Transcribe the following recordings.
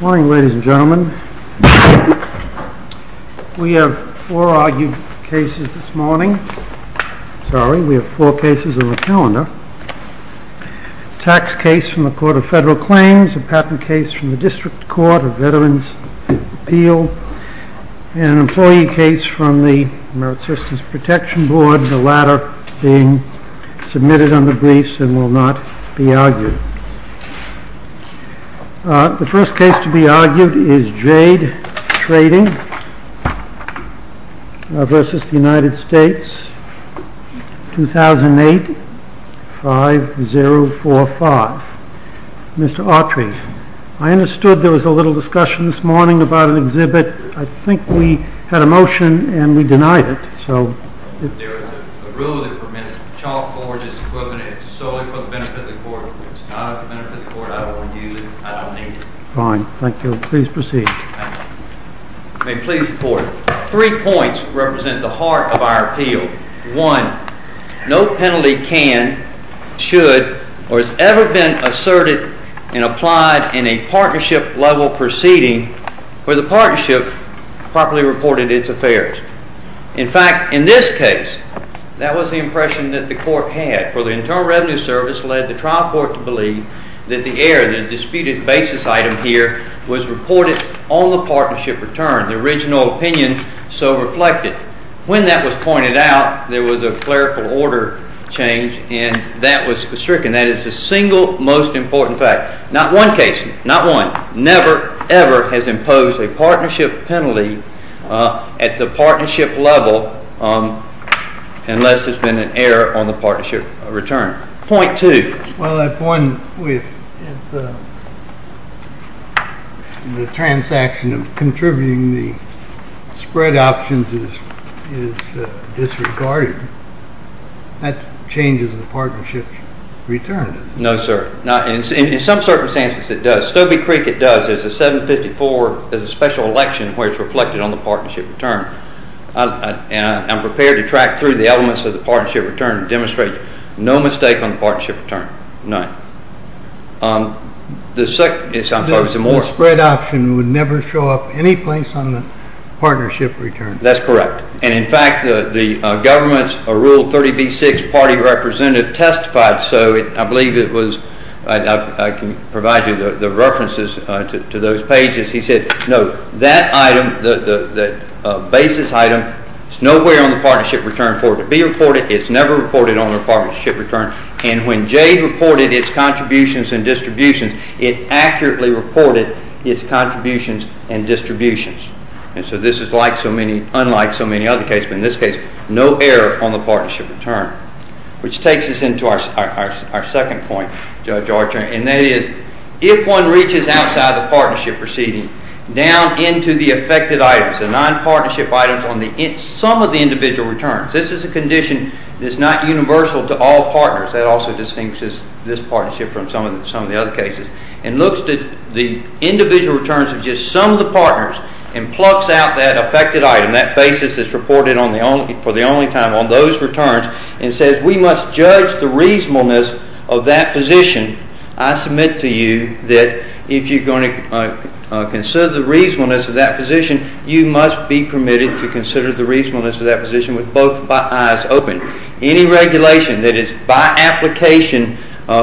Morning, ladies and gentlemen. We have four argued cases this morning. Sorry, we have four cases on the calendar. A tax case from the Court of Federal Claims, a patent case from the District Court of Veterans' Appeal, and an employee case from the Merit Systems Protection Board, the latter being submitted under briefs and will not be argued. The first case to be argued is Jade Trading v. United States, 2008, 5045. Mr. Autry, I understood there was a little discussion this morning about an exhibit. I think we had a motion and we denied it. There is a rule that permits chalk forges equivalent solely for the benefit of the Court. If it's not for the benefit of the Court, I don't want to use it. I don't need it. Fine. Thank you. Please proceed. I may please the Court. Three points represent the heart of our appeal. One, no penalty can, should, or has ever been asserted and applied in a partnership-level proceeding where the partnership properly reported its affairs. In fact, in this case, that was the impression that the Court had. For the Internal Revenue Service led the trial court to believe that the error, the disputed basis item here, was reported on the partnership return, the original opinion so reflected. When that was pointed out, there was a clerical order change and that was stricken. That is the single most important fact. Not one case, not one, never, ever has imposed a partnership penalty at the partnership level unless there's been an error on the partnership return. Point two. Well, I point with the transaction of contributing the spread options is disregarded. That changes the partnership return, doesn't it? No, sir. In some circumstances it does. Stobie Creek, it does. There's a 754, there's a special election where it's reflected on the partnership return. I'm prepared to track through the elements of the partnership return and demonstrate no mistake on the partnership return. None. The spread option would never show up any place on the partnership return. That's correct. And in fact, the government's Rule 30b-6 party representative testified so. I believe it was, I can provide you the references to those pages. He said, no, that item, the basis item, is nowhere on the partnership return for it to be reported. It's never reported on the partnership return. And when contributions and distributions. And so this is like so many, unlike so many other cases, but in this case, no error on the partnership return. Which takes us into our second point, Judge Archer, and that is if one reaches outside the partnership proceeding, down into the affected items, the non-partnership items on some of the individual returns, this is a condition that's not universal to all partners. That also distincts this partnership from some of the other cases. And looks to the individual returns of just some of the partners and plucks out that affected item. That basis is reported for the only time on those returns and says we must judge the reasonableness of that position. I submit to you that if you're going to consider the reasonableness of that position, you must be permitted to consider the reasonableness of that position with both eyes open. Any regulation that is invalid by application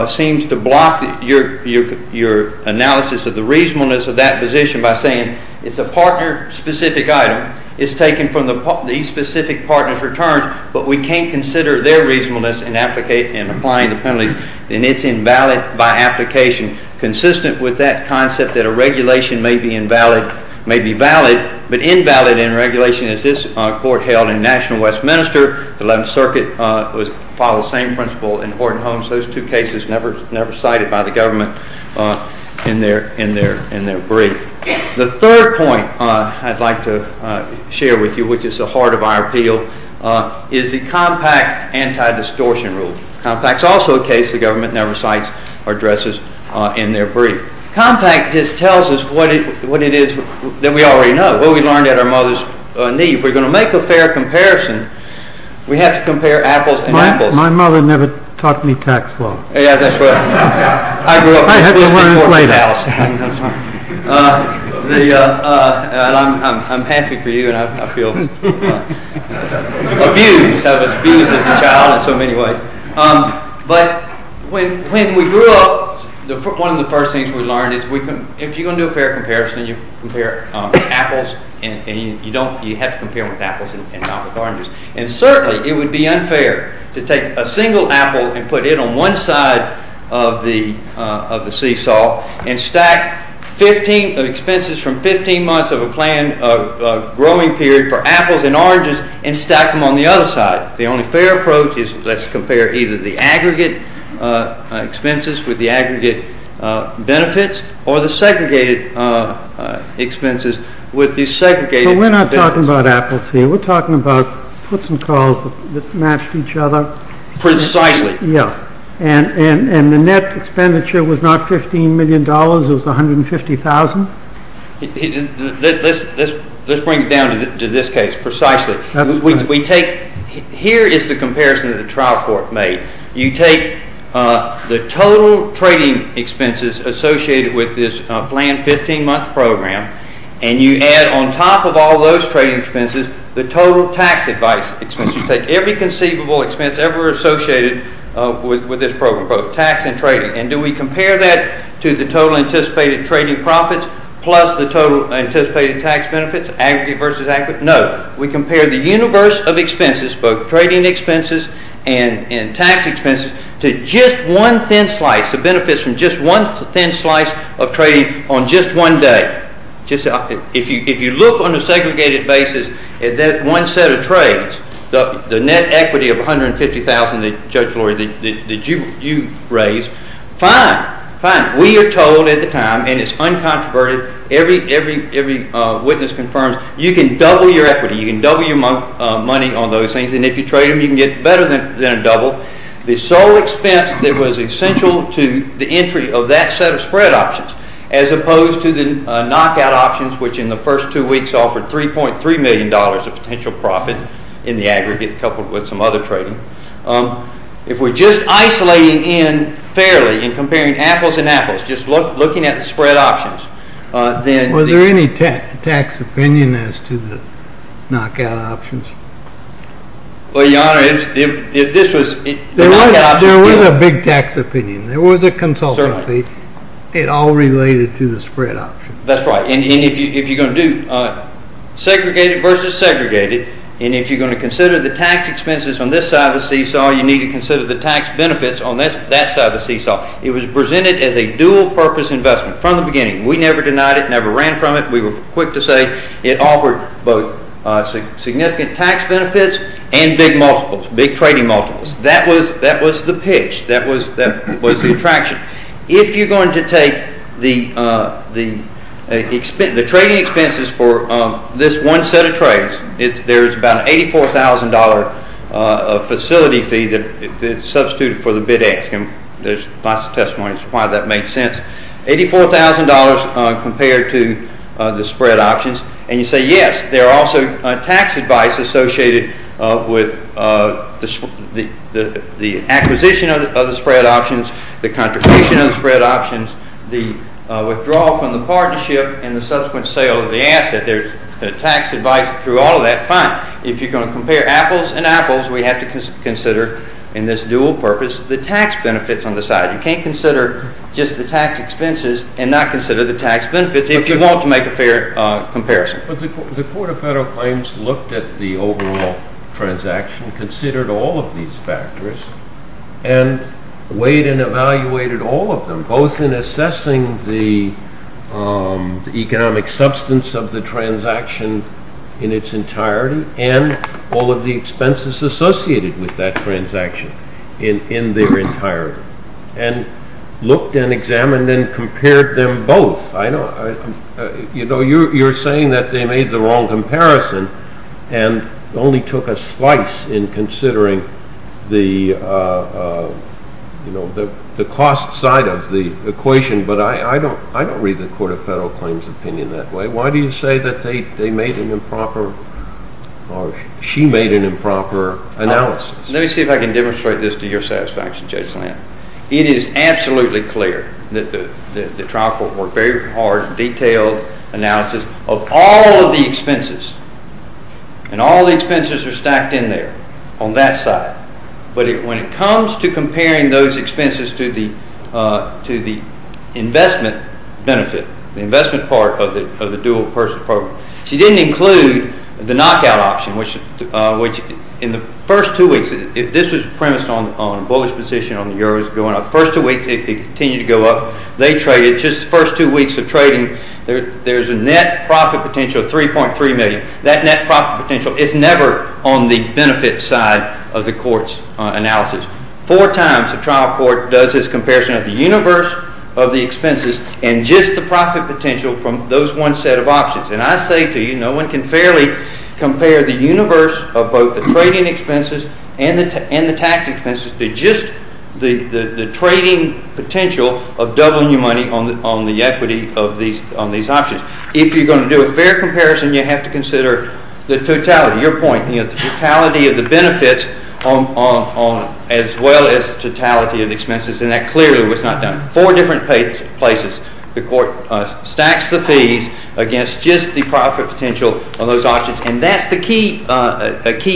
seems to block your analysis of the reasonableness of that position by saying it's a partner-specific item. It's taken from these specific partners' returns, but we can't consider their reasonableness in applying the penalties. And it's invalid by application. Consistent with that concept that a regulation may be invalid, may be valid, but invalid in regulation is this court held in National Westminster, the 11th Circuit followed the same principle in Horton Homes. Those two cases never cited by the government in their brief. The third point I'd like to share with you, which is the heart of our appeal, is the compact anti-distortion rule. Compact is also a case the government never cites or addresses in their brief. Compact just tells us what it is that we already know, what we learned at our mother's knee. If we're going to make a fair comparison, we have to compare apples and apples. My mother never taught me tax law. Yeah, that's right. I grew up with this before my house. I'm happy for you, and I feel abused. I was abused as a child in so many ways. But when we grew up, one of the first things we learned is if you're going to do a fair comparison, you have to compare with apples and not with oranges. And certainly it would be unfair to take a single apple and put it on one side of the seesaw and stack expenses from 15 months of a growing period for apples and oranges and stack them on the other side. The only fair approach is let's compare either the aggregate expenses with the aggregate benefits or the segregated expenses with the segregated benefits. So we're not talking about apples here. We're talking about puts and calls that matched each other. Precisely. Yeah. And the net expenditure was not $15 million. It was $150,000. Let's bring it down to this case precisely. That's right. Here is the comparison that the trial court made. You take the total trading expenses associated with this planned 15-month program and you add on top of all those trading expenses the total tax advice expenses. You take every conceivable expense ever associated with this program, both tax and trading. And do we compare that to the total anticipated trading profits plus the total anticipated tax benefits, aggregate versus aggregate? No. We compare the universe of expenses, both trading expenses and tax expenses, to just one thin slice of benefits from just one thin slice of trading on just one day. If you look on a segregated basis at that one set of trades, the net equity of $150,000 that Judge Lori, that you raised, fine. Fine. We are told at the time, and it's uncontroverted, every witness confirms, you can double your equity. You can double your money on those things. And if you trade them, you can get better than a double. The sole expense that was essential to the entry of that set of spread options, as opposed to the knockout options, which in the first two weeks offered $3.3 million of potential profit in the aggregate coupled with some other trading. If we are just isolating in fairly and comparing apples and apples, just looking at the spread options, then- Was there any tax opinion as to the knockout options? Well, Your Honor, if this was- There was a big tax opinion. There was a consultancy. It all related to the spread options. That's right. And if you're going to do segregated versus segregated, and if you're going to consider the tax expenses on this side of the seesaw, you need to consider the tax benefits on that side of the seesaw. It was presented as a dual-purpose investment from the beginning. We never denied it, never ran from it. We were quick to say it offered both significant tax benefits and big multiples, big trading multiples. That was the pitch. That was the attraction. If you're going to take the trading expenses for this one set of trades, there's about an $84,000 facility fee that's substituted for the bid-ask. There's lots of testimony as to why that made sense. $84,000 compared to the spread options. And you say, yes, there are also tax advice associated with the acquisition of the spread options, the contribution of the spread options, the withdrawal from the partnership, and the subsequent sale of the asset. There's tax advice through all of that. Fine. If you're going to compare apples and apples, we have to consider, in this dual purpose, the tax benefits on the side. You can't consider just the tax expenses and not consider the tax benefits if you want to make a fair comparison. But the Court of Federal Claims looked at the overall transaction, considered all of these factors, and weighed and evaluated all of them, both in assessing the economic substance of the transaction in its entirety and all of the expenses associated with that transaction in their entirety, and looked and examined and compared them both. You're saying that they made the wrong comparison and only took a slice in considering the cost side of the equation, but I don't read the Court of Federal Claims' opinion that way. Why do you say that they made an improper or she made an improper analysis? Let me see if I can demonstrate this to your satisfaction, Judge Lam. It is absolutely clear that the trial court worked very hard, detailed analysis of all of the expenses and all of the expenses are stacked in there on that side. But when it comes to comparing those expenses to the investment benefit, the investment part of the dual purpose program, she didn't include the knockout option, which in the first two weeks, this was premised on a bullish position on the Euros going up. The first two weeks it continued to go up. They traded just the first two weeks of trading. There's a net profit potential of $3.3 million. That net profit potential is never on the benefit side of the court's analysis. Four times the trial court does this comparison of the universe of the expenses and just the profit potential from those one set of options. And I say to you, no one can fairly compare the universe of both the trading expenses and the tax expenses to just the trading potential of doubling your money on the equity of these options. If you're going to do a fair comparison, you have to consider the totality, your point, the totality of the benefits as well as totality of the expenses. And that clearly was not done. Four different places the court stacks the fees against just the profit potential of those options. And that's the key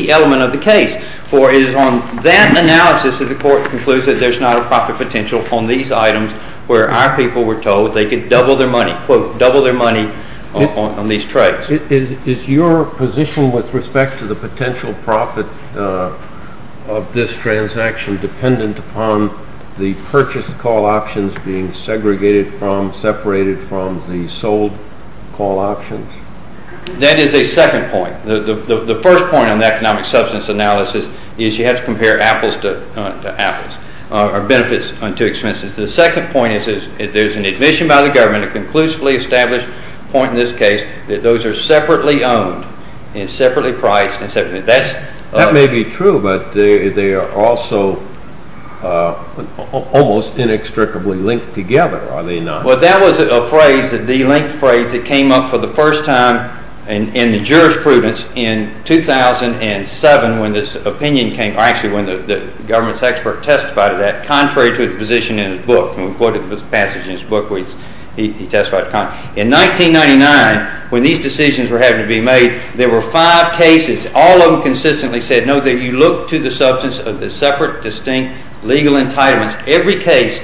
element of the case. For it is on that analysis that the court concludes that there's not a profit potential on these items where our people were told they could double their money, quote, double their money on these trades. Is your position with respect to the potential profit of this transaction dependent upon the purchase call options being segregated from, separated from the sold call options? That is a second point. The first point on the economic substance analysis is you have to compare apples to apples, or benefits to expenses. The second point is there's an admission by the government, a conclusively established point in this case, that those are separately owned and separately priced. That may be true, but they are also almost inextricably linked together, are they not? Well, that was a phrase, a delinked phrase that came up for the first time in the jurisprudence in 2007 when this opinion came, or actually when the government's expert testified to that, contrary to the position in his book. And we quoted the passage in his book where he testified contrary. In 1999, when these decisions were having to be made, there were five cases. All of them consistently said, no, that you look to the substance of the separate, distinct legal entitlements. Every case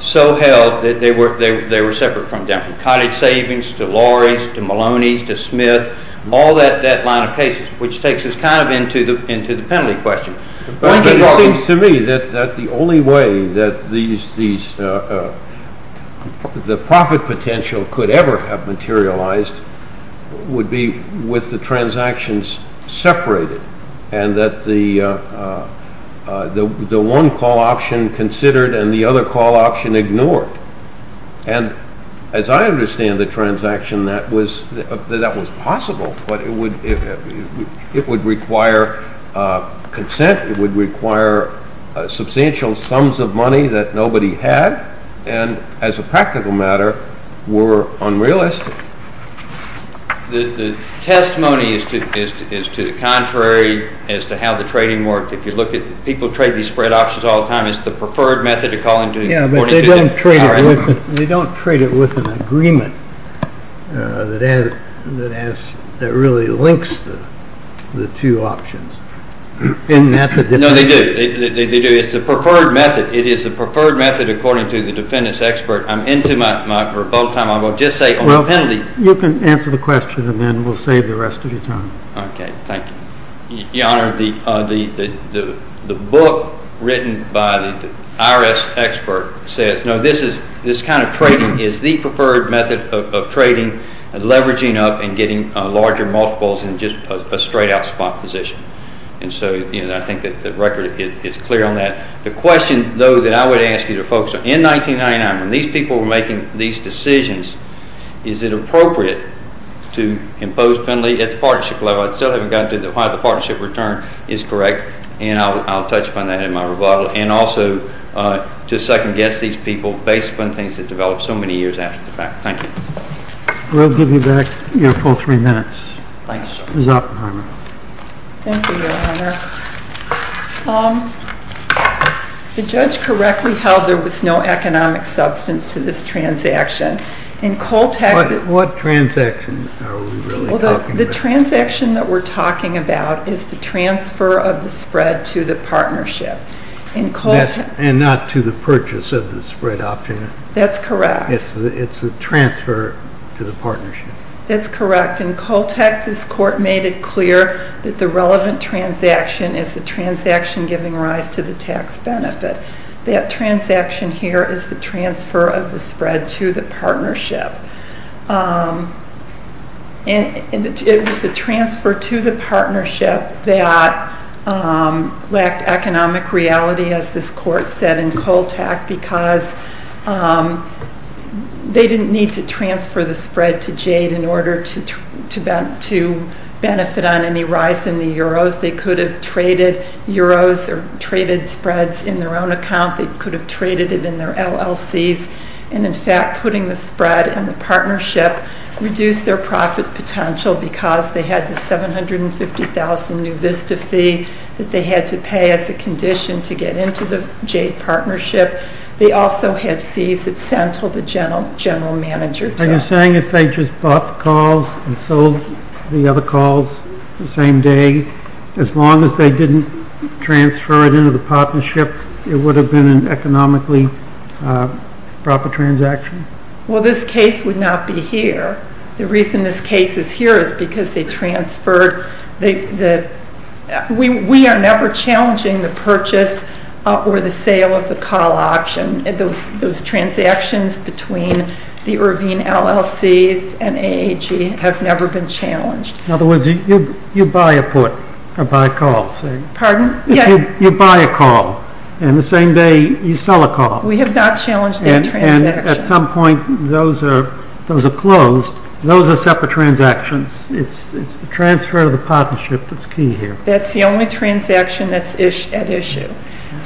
so held that they were separate from them, from cottage savings to lorries to Maloney's to Smith, all that line of cases, which takes us kind of into the penalty question. It seems to me that the only way that the profit potential could ever have materialized would be with the transactions separated and that the one call option considered and the other call option ignored. And as I understand the transaction, that was possible, but it would require consent, it would require substantial sums of money that nobody had, and as a practical matter, were unrealistic. The testimony is to the contrary as to how the trading worked. If you look at, people trade these spread options all the time. It's the preferred method of calling according to- Yeah, but they don't trade it with an agreement that really links the two options. No, they do. It's the preferred method. It is the preferred method according to the defendant's expert. I'm into my revolt time. I will just say on the penalty- Well, you can answer the question and then we'll save the rest of your time. Okay, thank you. Your Honor, the book written by the IRS expert says, no, this kind of trading is the preferred method of trading, leveraging up and getting larger multiples in just a straight out spot position. And so I think that the record is clear on that. The question, though, that I would ask you to focus on, in 1999, when these people were making these decisions, is it appropriate to impose penalty at the partnership level? I still haven't gotten to why the partnership return is correct, and I'll touch upon that in my rebuttal, and also to second-guess these people based upon things that developed so many years after the fact. Thank you. We'll give you back your full three minutes. Thank you, sir. Ms. Oppenheimer. Thank you, Your Honor. The judge correctly held there was no economic substance to this transaction, and Coltech What transaction are we really talking about? The transaction that we're talking about is the transfer of the spread to the partnership. And not to the purchase of the spread option. That's correct. It's the transfer to the partnership. That's correct. In Coltech, this court made it clear that the relevant transaction is the transaction giving rise to the tax benefit. That transaction here is the transfer of the spread to the partnership. And it was the transfer to the partnership that lacked economic reality, as this court said in Coltech, because they didn't need to transfer the spread to Jade in order to benefit on any rise in the euros. They could have traded euros or traded spreads in their own account. They could have traded it in their LLCs. And, in fact, putting the spread in the partnership reduced their profit potential because they had the 750,000 new VISTA fee that they had to pay as a condition to get into the Jade partnership. They also had fees that Sentil, the general manager, took. Are you saying if they just bought the calls and sold the other calls the same day, as long as they didn't transfer it into the partnership, it would have been an economically proper transaction? Well, this case would not be here. The reason this case is here is because they transferred. We are never challenging the purchase or the sale of the call option, and those transactions between the Irvine LLC and AAG have never been challenged. In other words, you buy a put or buy a call. Pardon? You buy a call, and the same day you sell a call. We have not challenged that transaction. And at some point those are closed. Those are separate transactions. It's the transfer to the partnership that's key here. That's the only transaction that's at issue.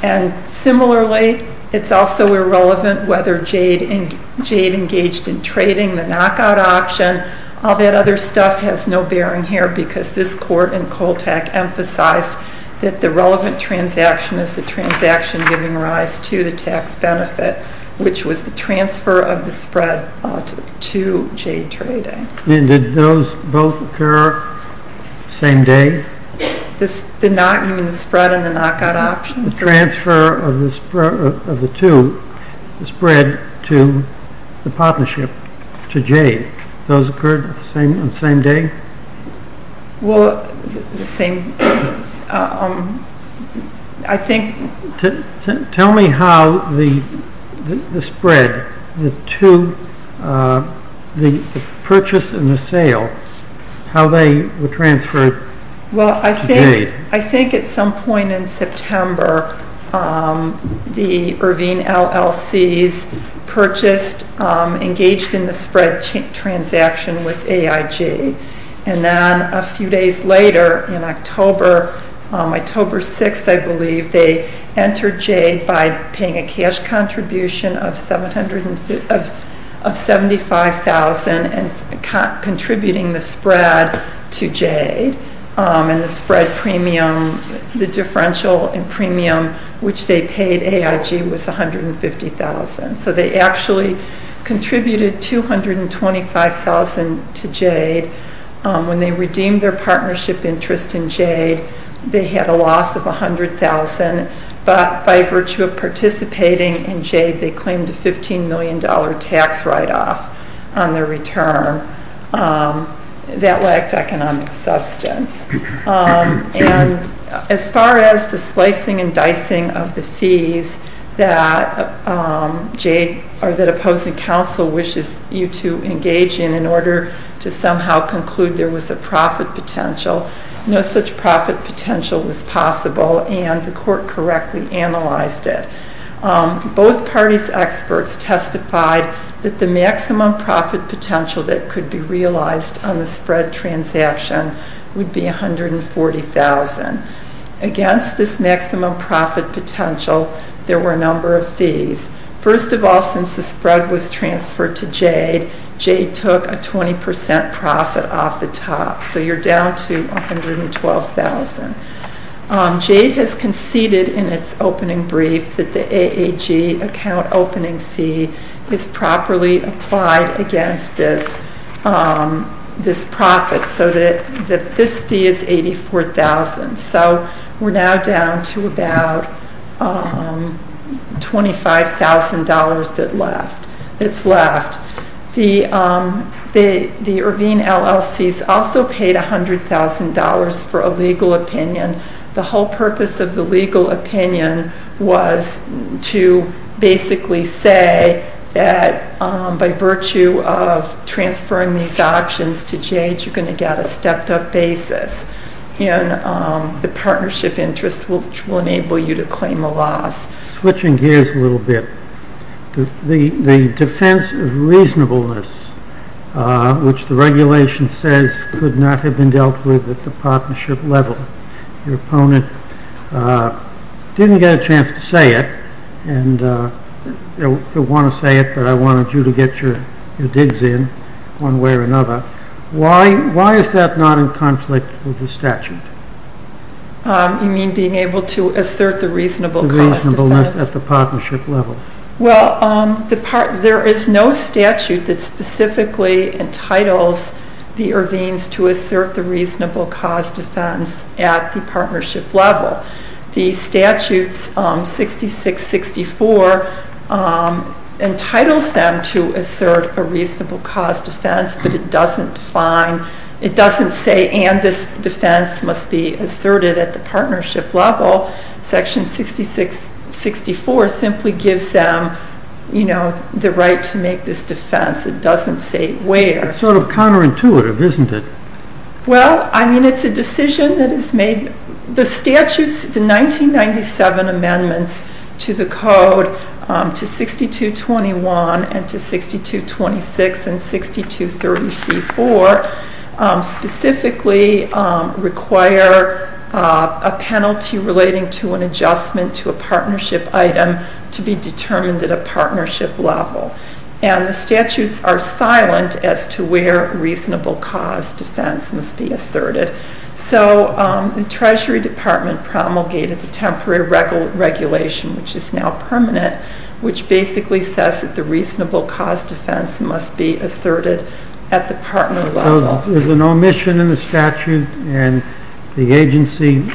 And similarly, it's also irrelevant whether Jade engaged in trading the knockout option. All that other stuff has no bearing here because this court in Coltac emphasized that the relevant transaction is the transaction giving rise to the tax benefit, which was the transfer of the spread to Jade trading. And did those both occur the same day? The spread and the knockout options? The transfer of the two, the spread to the partnership to Jade. Those occurred on the same day? Well, the same, I think. Tell me how the spread, the purchase and the sale, how they were transferred to Jade. Well, I think at some point in September the Irvine LLCs purchased, engaged in the spread transaction with AAG. And then a few days later in October, October 6th, I believe, they entered Jade by paying a cash contribution of $75,000 and contributing the spread to Jade. And the spread premium, the differential in premium which they paid AAG was $150,000. So they actually contributed $225,000 to Jade. When they redeemed their partnership interest in Jade, they had a loss of $100,000. But by virtue of participating in Jade, they claimed a $15 million tax write-off on their return. That lacked economic substance. And as far as the slicing and dicing of the fees that Jade or that opposing counsel wishes you to engage in, in order to somehow conclude there was a profit potential, no such profit potential was possible and the court correctly analyzed it. Both parties' experts testified that the maximum profit potential that could be realized on the spread transaction would be $140,000. Against this maximum profit potential, there were a number of fees. First of all, since the spread was transferred to Jade, Jade took a 20% profit off the top. So you're down to $112,000. Jade has conceded in its opening brief that the AAG account opening fee is properly applied against this profit so that this fee is $84,000. So we're now down to about $25,000 that's left. The Irvine LLCs also paid $100,000 for a legal opinion. The whole purpose of the legal opinion was to basically say that by virtue of transferring these options to Jade, you're going to get a stepped-up basis in the partnership interest, which will enable you to claim a loss. Switching gears a little bit, the defense of reasonableness, which the regulation says could not have been dealt with at the partnership level. Your opponent didn't get a chance to say it and didn't want to say it, but I wanted you to get your digs in one way or another. Why is that not in conflict with the statute? You mean being able to assert the reasonable cost of that? The reasonableness at the partnership level. Well, there is no statute that specifically entitles the Irvines to assert the reasonable cost defense at the partnership level. The statutes 66-64 entitles them to assert a reasonable cost defense, but it doesn't define, it doesn't say and this defense must be asserted at the partnership level. Section 66-64 simply gives them, you know, the right to make this defense. It doesn't say where. It's sort of counterintuitive, isn't it? Well, I mean, it's a decision that is made. The statutes, the 1997 amendments to the code, to 62-21 and to 62-26 and 62-34, specifically require a penalty relating to an adjustment to a partnership item to be determined at a partnership level. And the statutes are silent as to where reasonable cost defense must be asserted. So the Treasury Department promulgated a temporary regulation, which is now permanent, which basically says that the reasonable cost defense must be asserted at the partner level. So there's an omission in the statute and the agency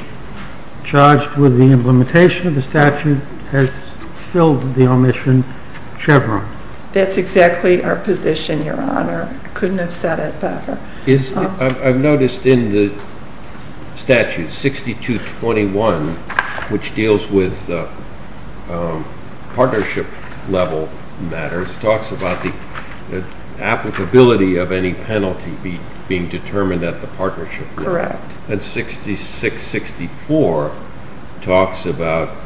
charged with the implementation of the statute has filled the omission chevron. That's exactly our position, Your Honor. I couldn't have said it better. I've noticed in the statute, 62-21, which deals with partnership level matters, talks about the applicability of any penalty being determined at the partnership level. Correct. And 66-64 talks about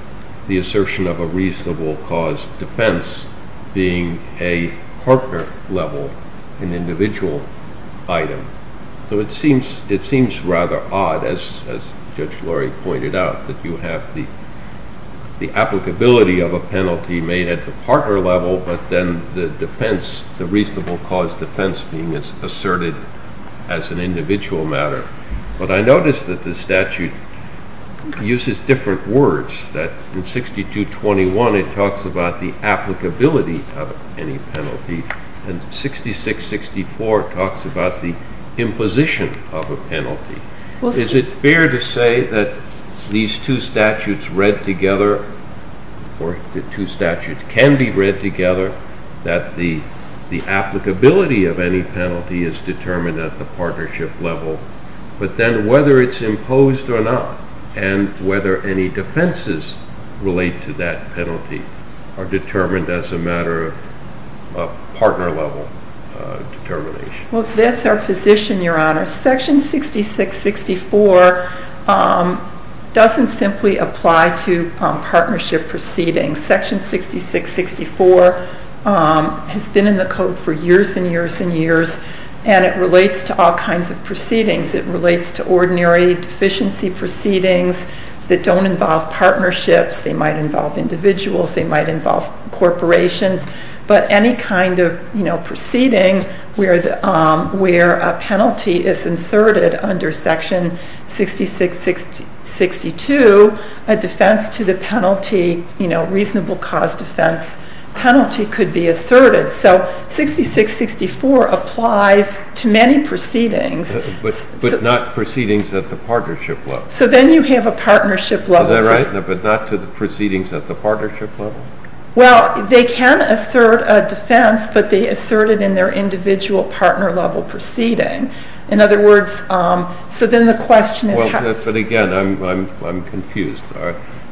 the assertion of a reasonable cost defense being a partner level, an individual item. So it seems rather odd, as Judge Lurie pointed out, that you have the applicability of a penalty made at the partner level, but then the defense, the reasonable cost defense being asserted as an individual matter. But I notice that the statute uses different words. In 62-21, it talks about the applicability of any penalty, and 66-64 talks about the imposition of a penalty. Is it fair to say that these two statutes read together, or the two statutes can be read together, that the applicability of any penalty is determined at the partnership level, but then whether it's imposed or not, and whether any defenses relate to that penalty, are determined as a matter of partner level determination? Well, that's our position, Your Honor. Section 66-64 doesn't simply apply to partnership proceedings. Section 66-64 has been in the Code for years and years and years, and it relates to all kinds of proceedings. It relates to ordinary deficiency proceedings that don't involve partnerships. They might involve individuals. They might involve corporations. But any kind of proceeding where a penalty is inserted under Section 66-62, a defense to the penalty, reasonable cost defense penalty, could be asserted. So 66-64 applies to many proceedings. But not proceedings at the partnership level. So then you have a partnership level. Is that right? But not to the proceedings at the partnership level? Well, they can assert a defense, but they assert it in their individual partner level proceeding. In other words, so then the question is how? But again, I'm confused.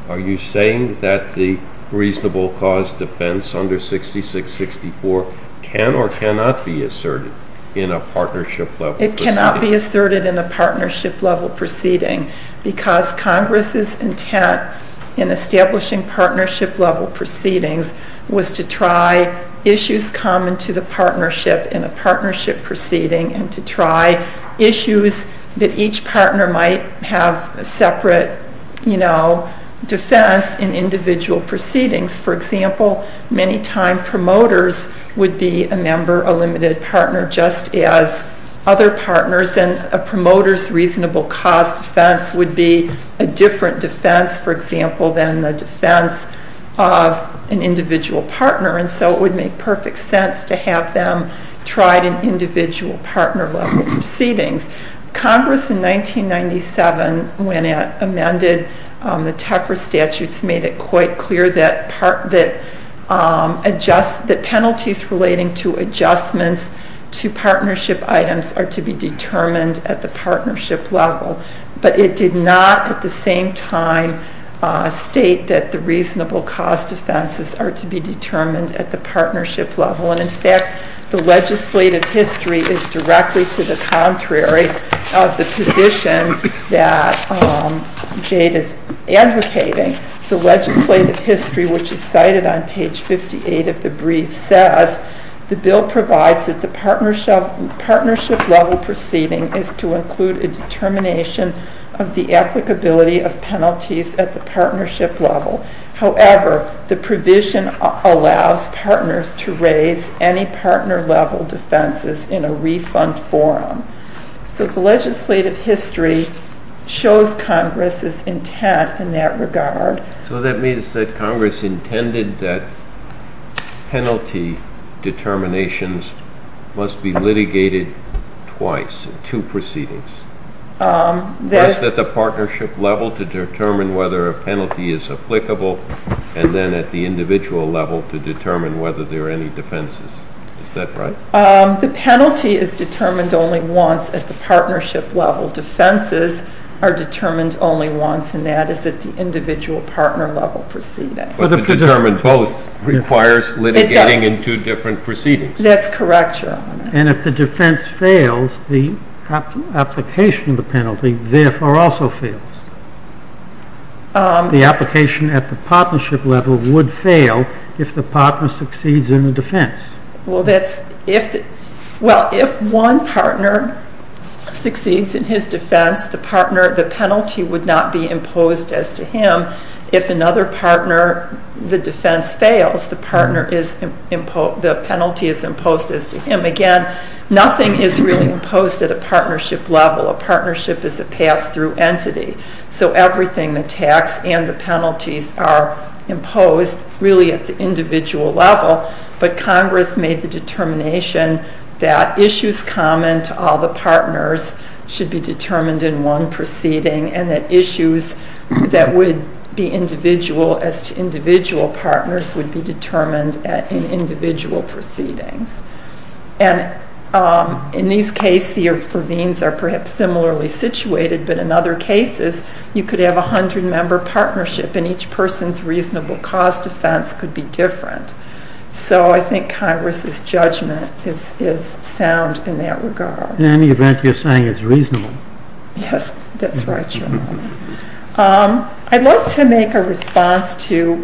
Are you saying that the reasonable cost defense under 66-64 can or cannot be asserted in a partnership level proceeding? It cannot be asserted in a partnership level proceeding because Congress's intent in establishing partnership level proceedings was to try issues common to the partnership in a partnership proceeding and to try issues that each partner might have a separate, you know, defense in individual proceedings. For example, many-time promoters would be a member, a limited partner, just as other partners, and a promoter's reasonable cost defense would be a different defense, for example, than the defense of an individual partner. And so it would make perfect sense to have them try an individual partner level proceedings. Congress in 1997, when it amended the Tefra statutes, made it quite clear that penalties relating to adjustments to partnership items are to be determined at the partnership level. But it did not at the same time state that the reasonable cost defenses are to be determined at the partnership level. And in fact, the legislative history is directly to the contrary of the position that Jade is advocating. The legislative history, which is cited on page 58 of the brief, says, the bill provides that the partnership level proceeding is to include a determination of the applicability of penalties at the partnership level. However, the provision allows partners to raise any partner level defenses in a refund forum. So the legislative history shows Congress's intent in that regard. So that means that Congress intended that penalty determinations must be litigated twice, two proceedings. Once at the partnership level to determine whether a penalty is applicable, and then at the individual level to determine whether there are any defenses. Is that right? The penalty is determined only once at the partnership level. Defenses are determined only once, and that is at the individual partner level proceeding. But to determine both requires litigating in two different proceedings. That's correct, Your Honor. And if the defense fails, the application of the penalty therefore also fails. The application at the partnership level would fail if the partner succeeds in the defense. Well, if one partner succeeds in his defense, the penalty would not be imposed as to him. If another partner, the defense fails, the penalty is imposed as to him. Again, nothing is really imposed at a partnership level. A partnership is a pass-through entity. So everything, the tax and the penalties, are imposed really at the individual level. But Congress made the determination that issues common to all the partners should be determined in one proceeding and that issues that would be individual as to individual partners would be determined in individual proceedings. And in these cases, the ravines are perhaps similarly situated, but in other cases you could have a hundred-member partnership and each person's reasonable cause defense could be different. So I think Congress's judgment is sound in that regard. In any event, you're saying it's reasonable. Yes, that's right, John. I'd like to make a response to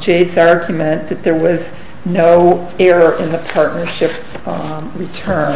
Jade's argument that there was no error in the partnership return.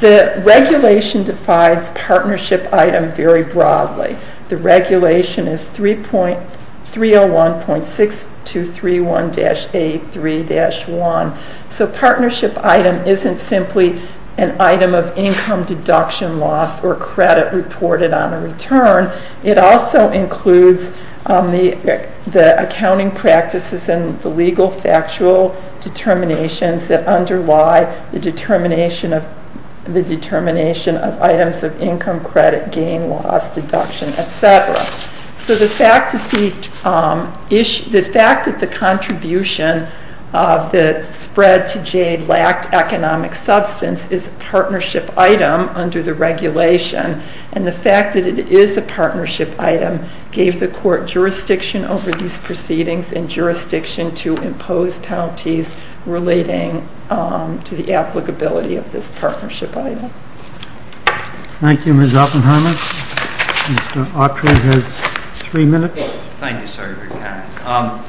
The regulation defines partnership item very broadly. The regulation is 301.6231-A3-1. So partnership item isn't simply an item of income, deduction, loss, or credit reported on a return. It also includes the accounting practices and the legal factual determinations that underlie the determination of items of income, credit, gain, loss, deduction, et cetera. So the fact that the contribution of the spread to Jade lacked economic substance is a partnership item under the regulation, and the fact that it is a partnership item gave the court jurisdiction over these proceedings and jurisdiction to impose penalties relating to the applicability of this partnership item. Thank you, Ms. Oppenheimer. Mr. Autry has three minutes. Thank you, Senator McKibben.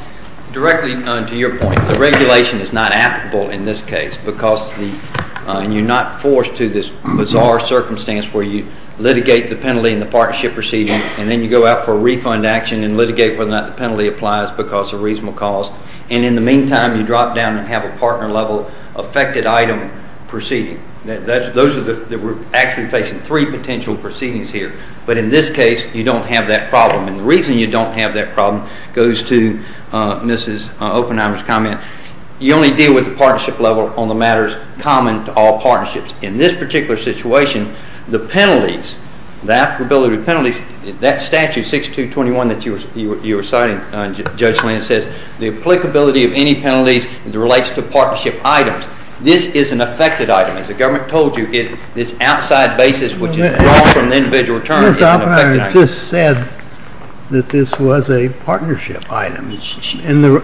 Directly to your point, the regulation is not applicable in this case because you're not forced to this bizarre circumstance where you litigate the penalty in the partnership proceeding and then you go out for a refund action and litigate whether or not the penalty applies because of reasonable cause. And in the meantime, you drop down and have a partner-level affected item proceeding. Those are the three potential proceedings here. But in this case, you don't have that problem. And the reason you don't have that problem goes to Ms. Oppenheimer's comment. You only deal with the partnership level on the matters common to all partnerships. In this particular situation, the penalties, the applicability of penalties, that statute 6221 that you were citing, Judge Land, says the applicability of any penalties as it relates to partnership items. This is an affected item. As the government told you, this outside basis which is drawn from the individual return is an affected item. Ms. Oppenheimer just said that this was a partnership item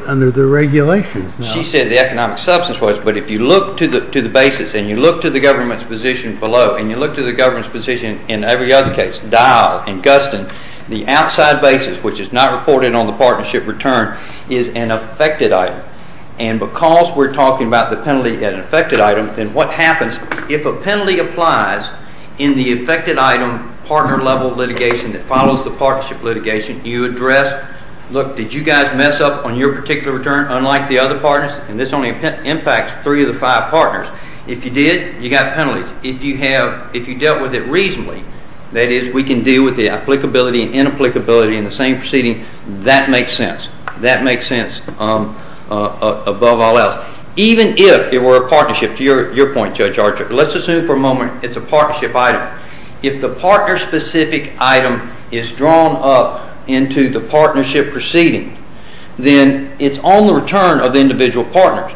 under the regulations. She said the economic substance was. But if you look to the basis and you look to the government's position below and you look to the government's position in every other case, Dial and Guston, the outside basis which is not reported on the partnership return is an affected item. And because we're talking about the penalty as an affected item, then what happens if a penalty applies in the affected item partner level litigation that follows the partnership litigation, you address, look, did you guys mess up on your particular return unlike the other partners? And this only impacts three of the five partners. If you did, you got penalties. If you dealt with it reasonably, that is, we can deal with the applicability and inapplicability in the same proceeding, that makes sense. That makes sense above all else. Even if it were a partnership, to your point, Judge Archer, let's assume for a moment it's a partnership item. If the partner-specific item is drawn up into the partnership proceeding, then it's on the return of the individual partners.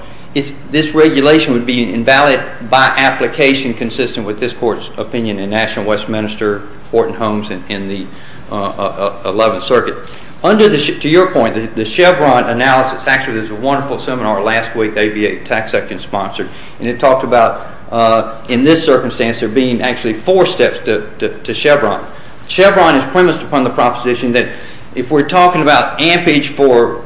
and National Westminster, Horton Homes, and the 11th Circuit. To your point, the Chevron analysis, actually, there was a wonderful seminar last week, ABA tax section sponsored, and it talked about in this circumstance there being actually four steps to Chevron. Chevron is premised upon the proposition that if we're talking about ampage for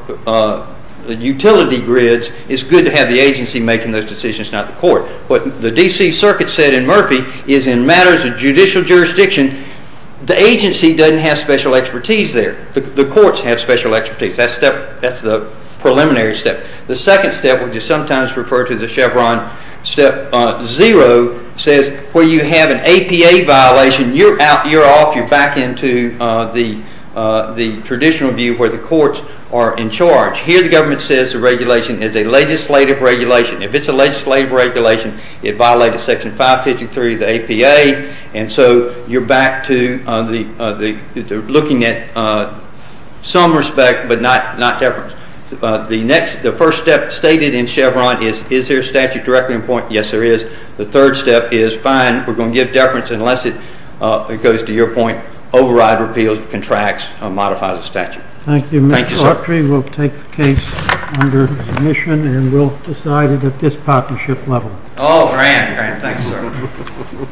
utility grids, it's good to have the agency making those decisions, not the court. What the D.C. Circuit said in Murphy is in matters of judicial jurisdiction, the agency doesn't have special expertise there. The courts have special expertise. That's the preliminary step. The second step, which is sometimes referred to as the Chevron step zero, says where you have an APA violation, you're off, you're back into the traditional view where the courts are in charge. Here the government says the regulation is a legislative regulation. If it's a legislative regulation, it violates section 553 of the APA, and so you're back to looking at some respect but not deference. The first step stated in Chevron is is there a statute directly in point? Yes, there is. The third step is fine, we're going to give deference unless it goes to your point, override, repeals, contracts, modifies the statute. Thank you. Thank you, sir. Mr. Autry will take the case under submission and we'll decide it at this partnership level. Oh, grand, grand. Thanks, sir.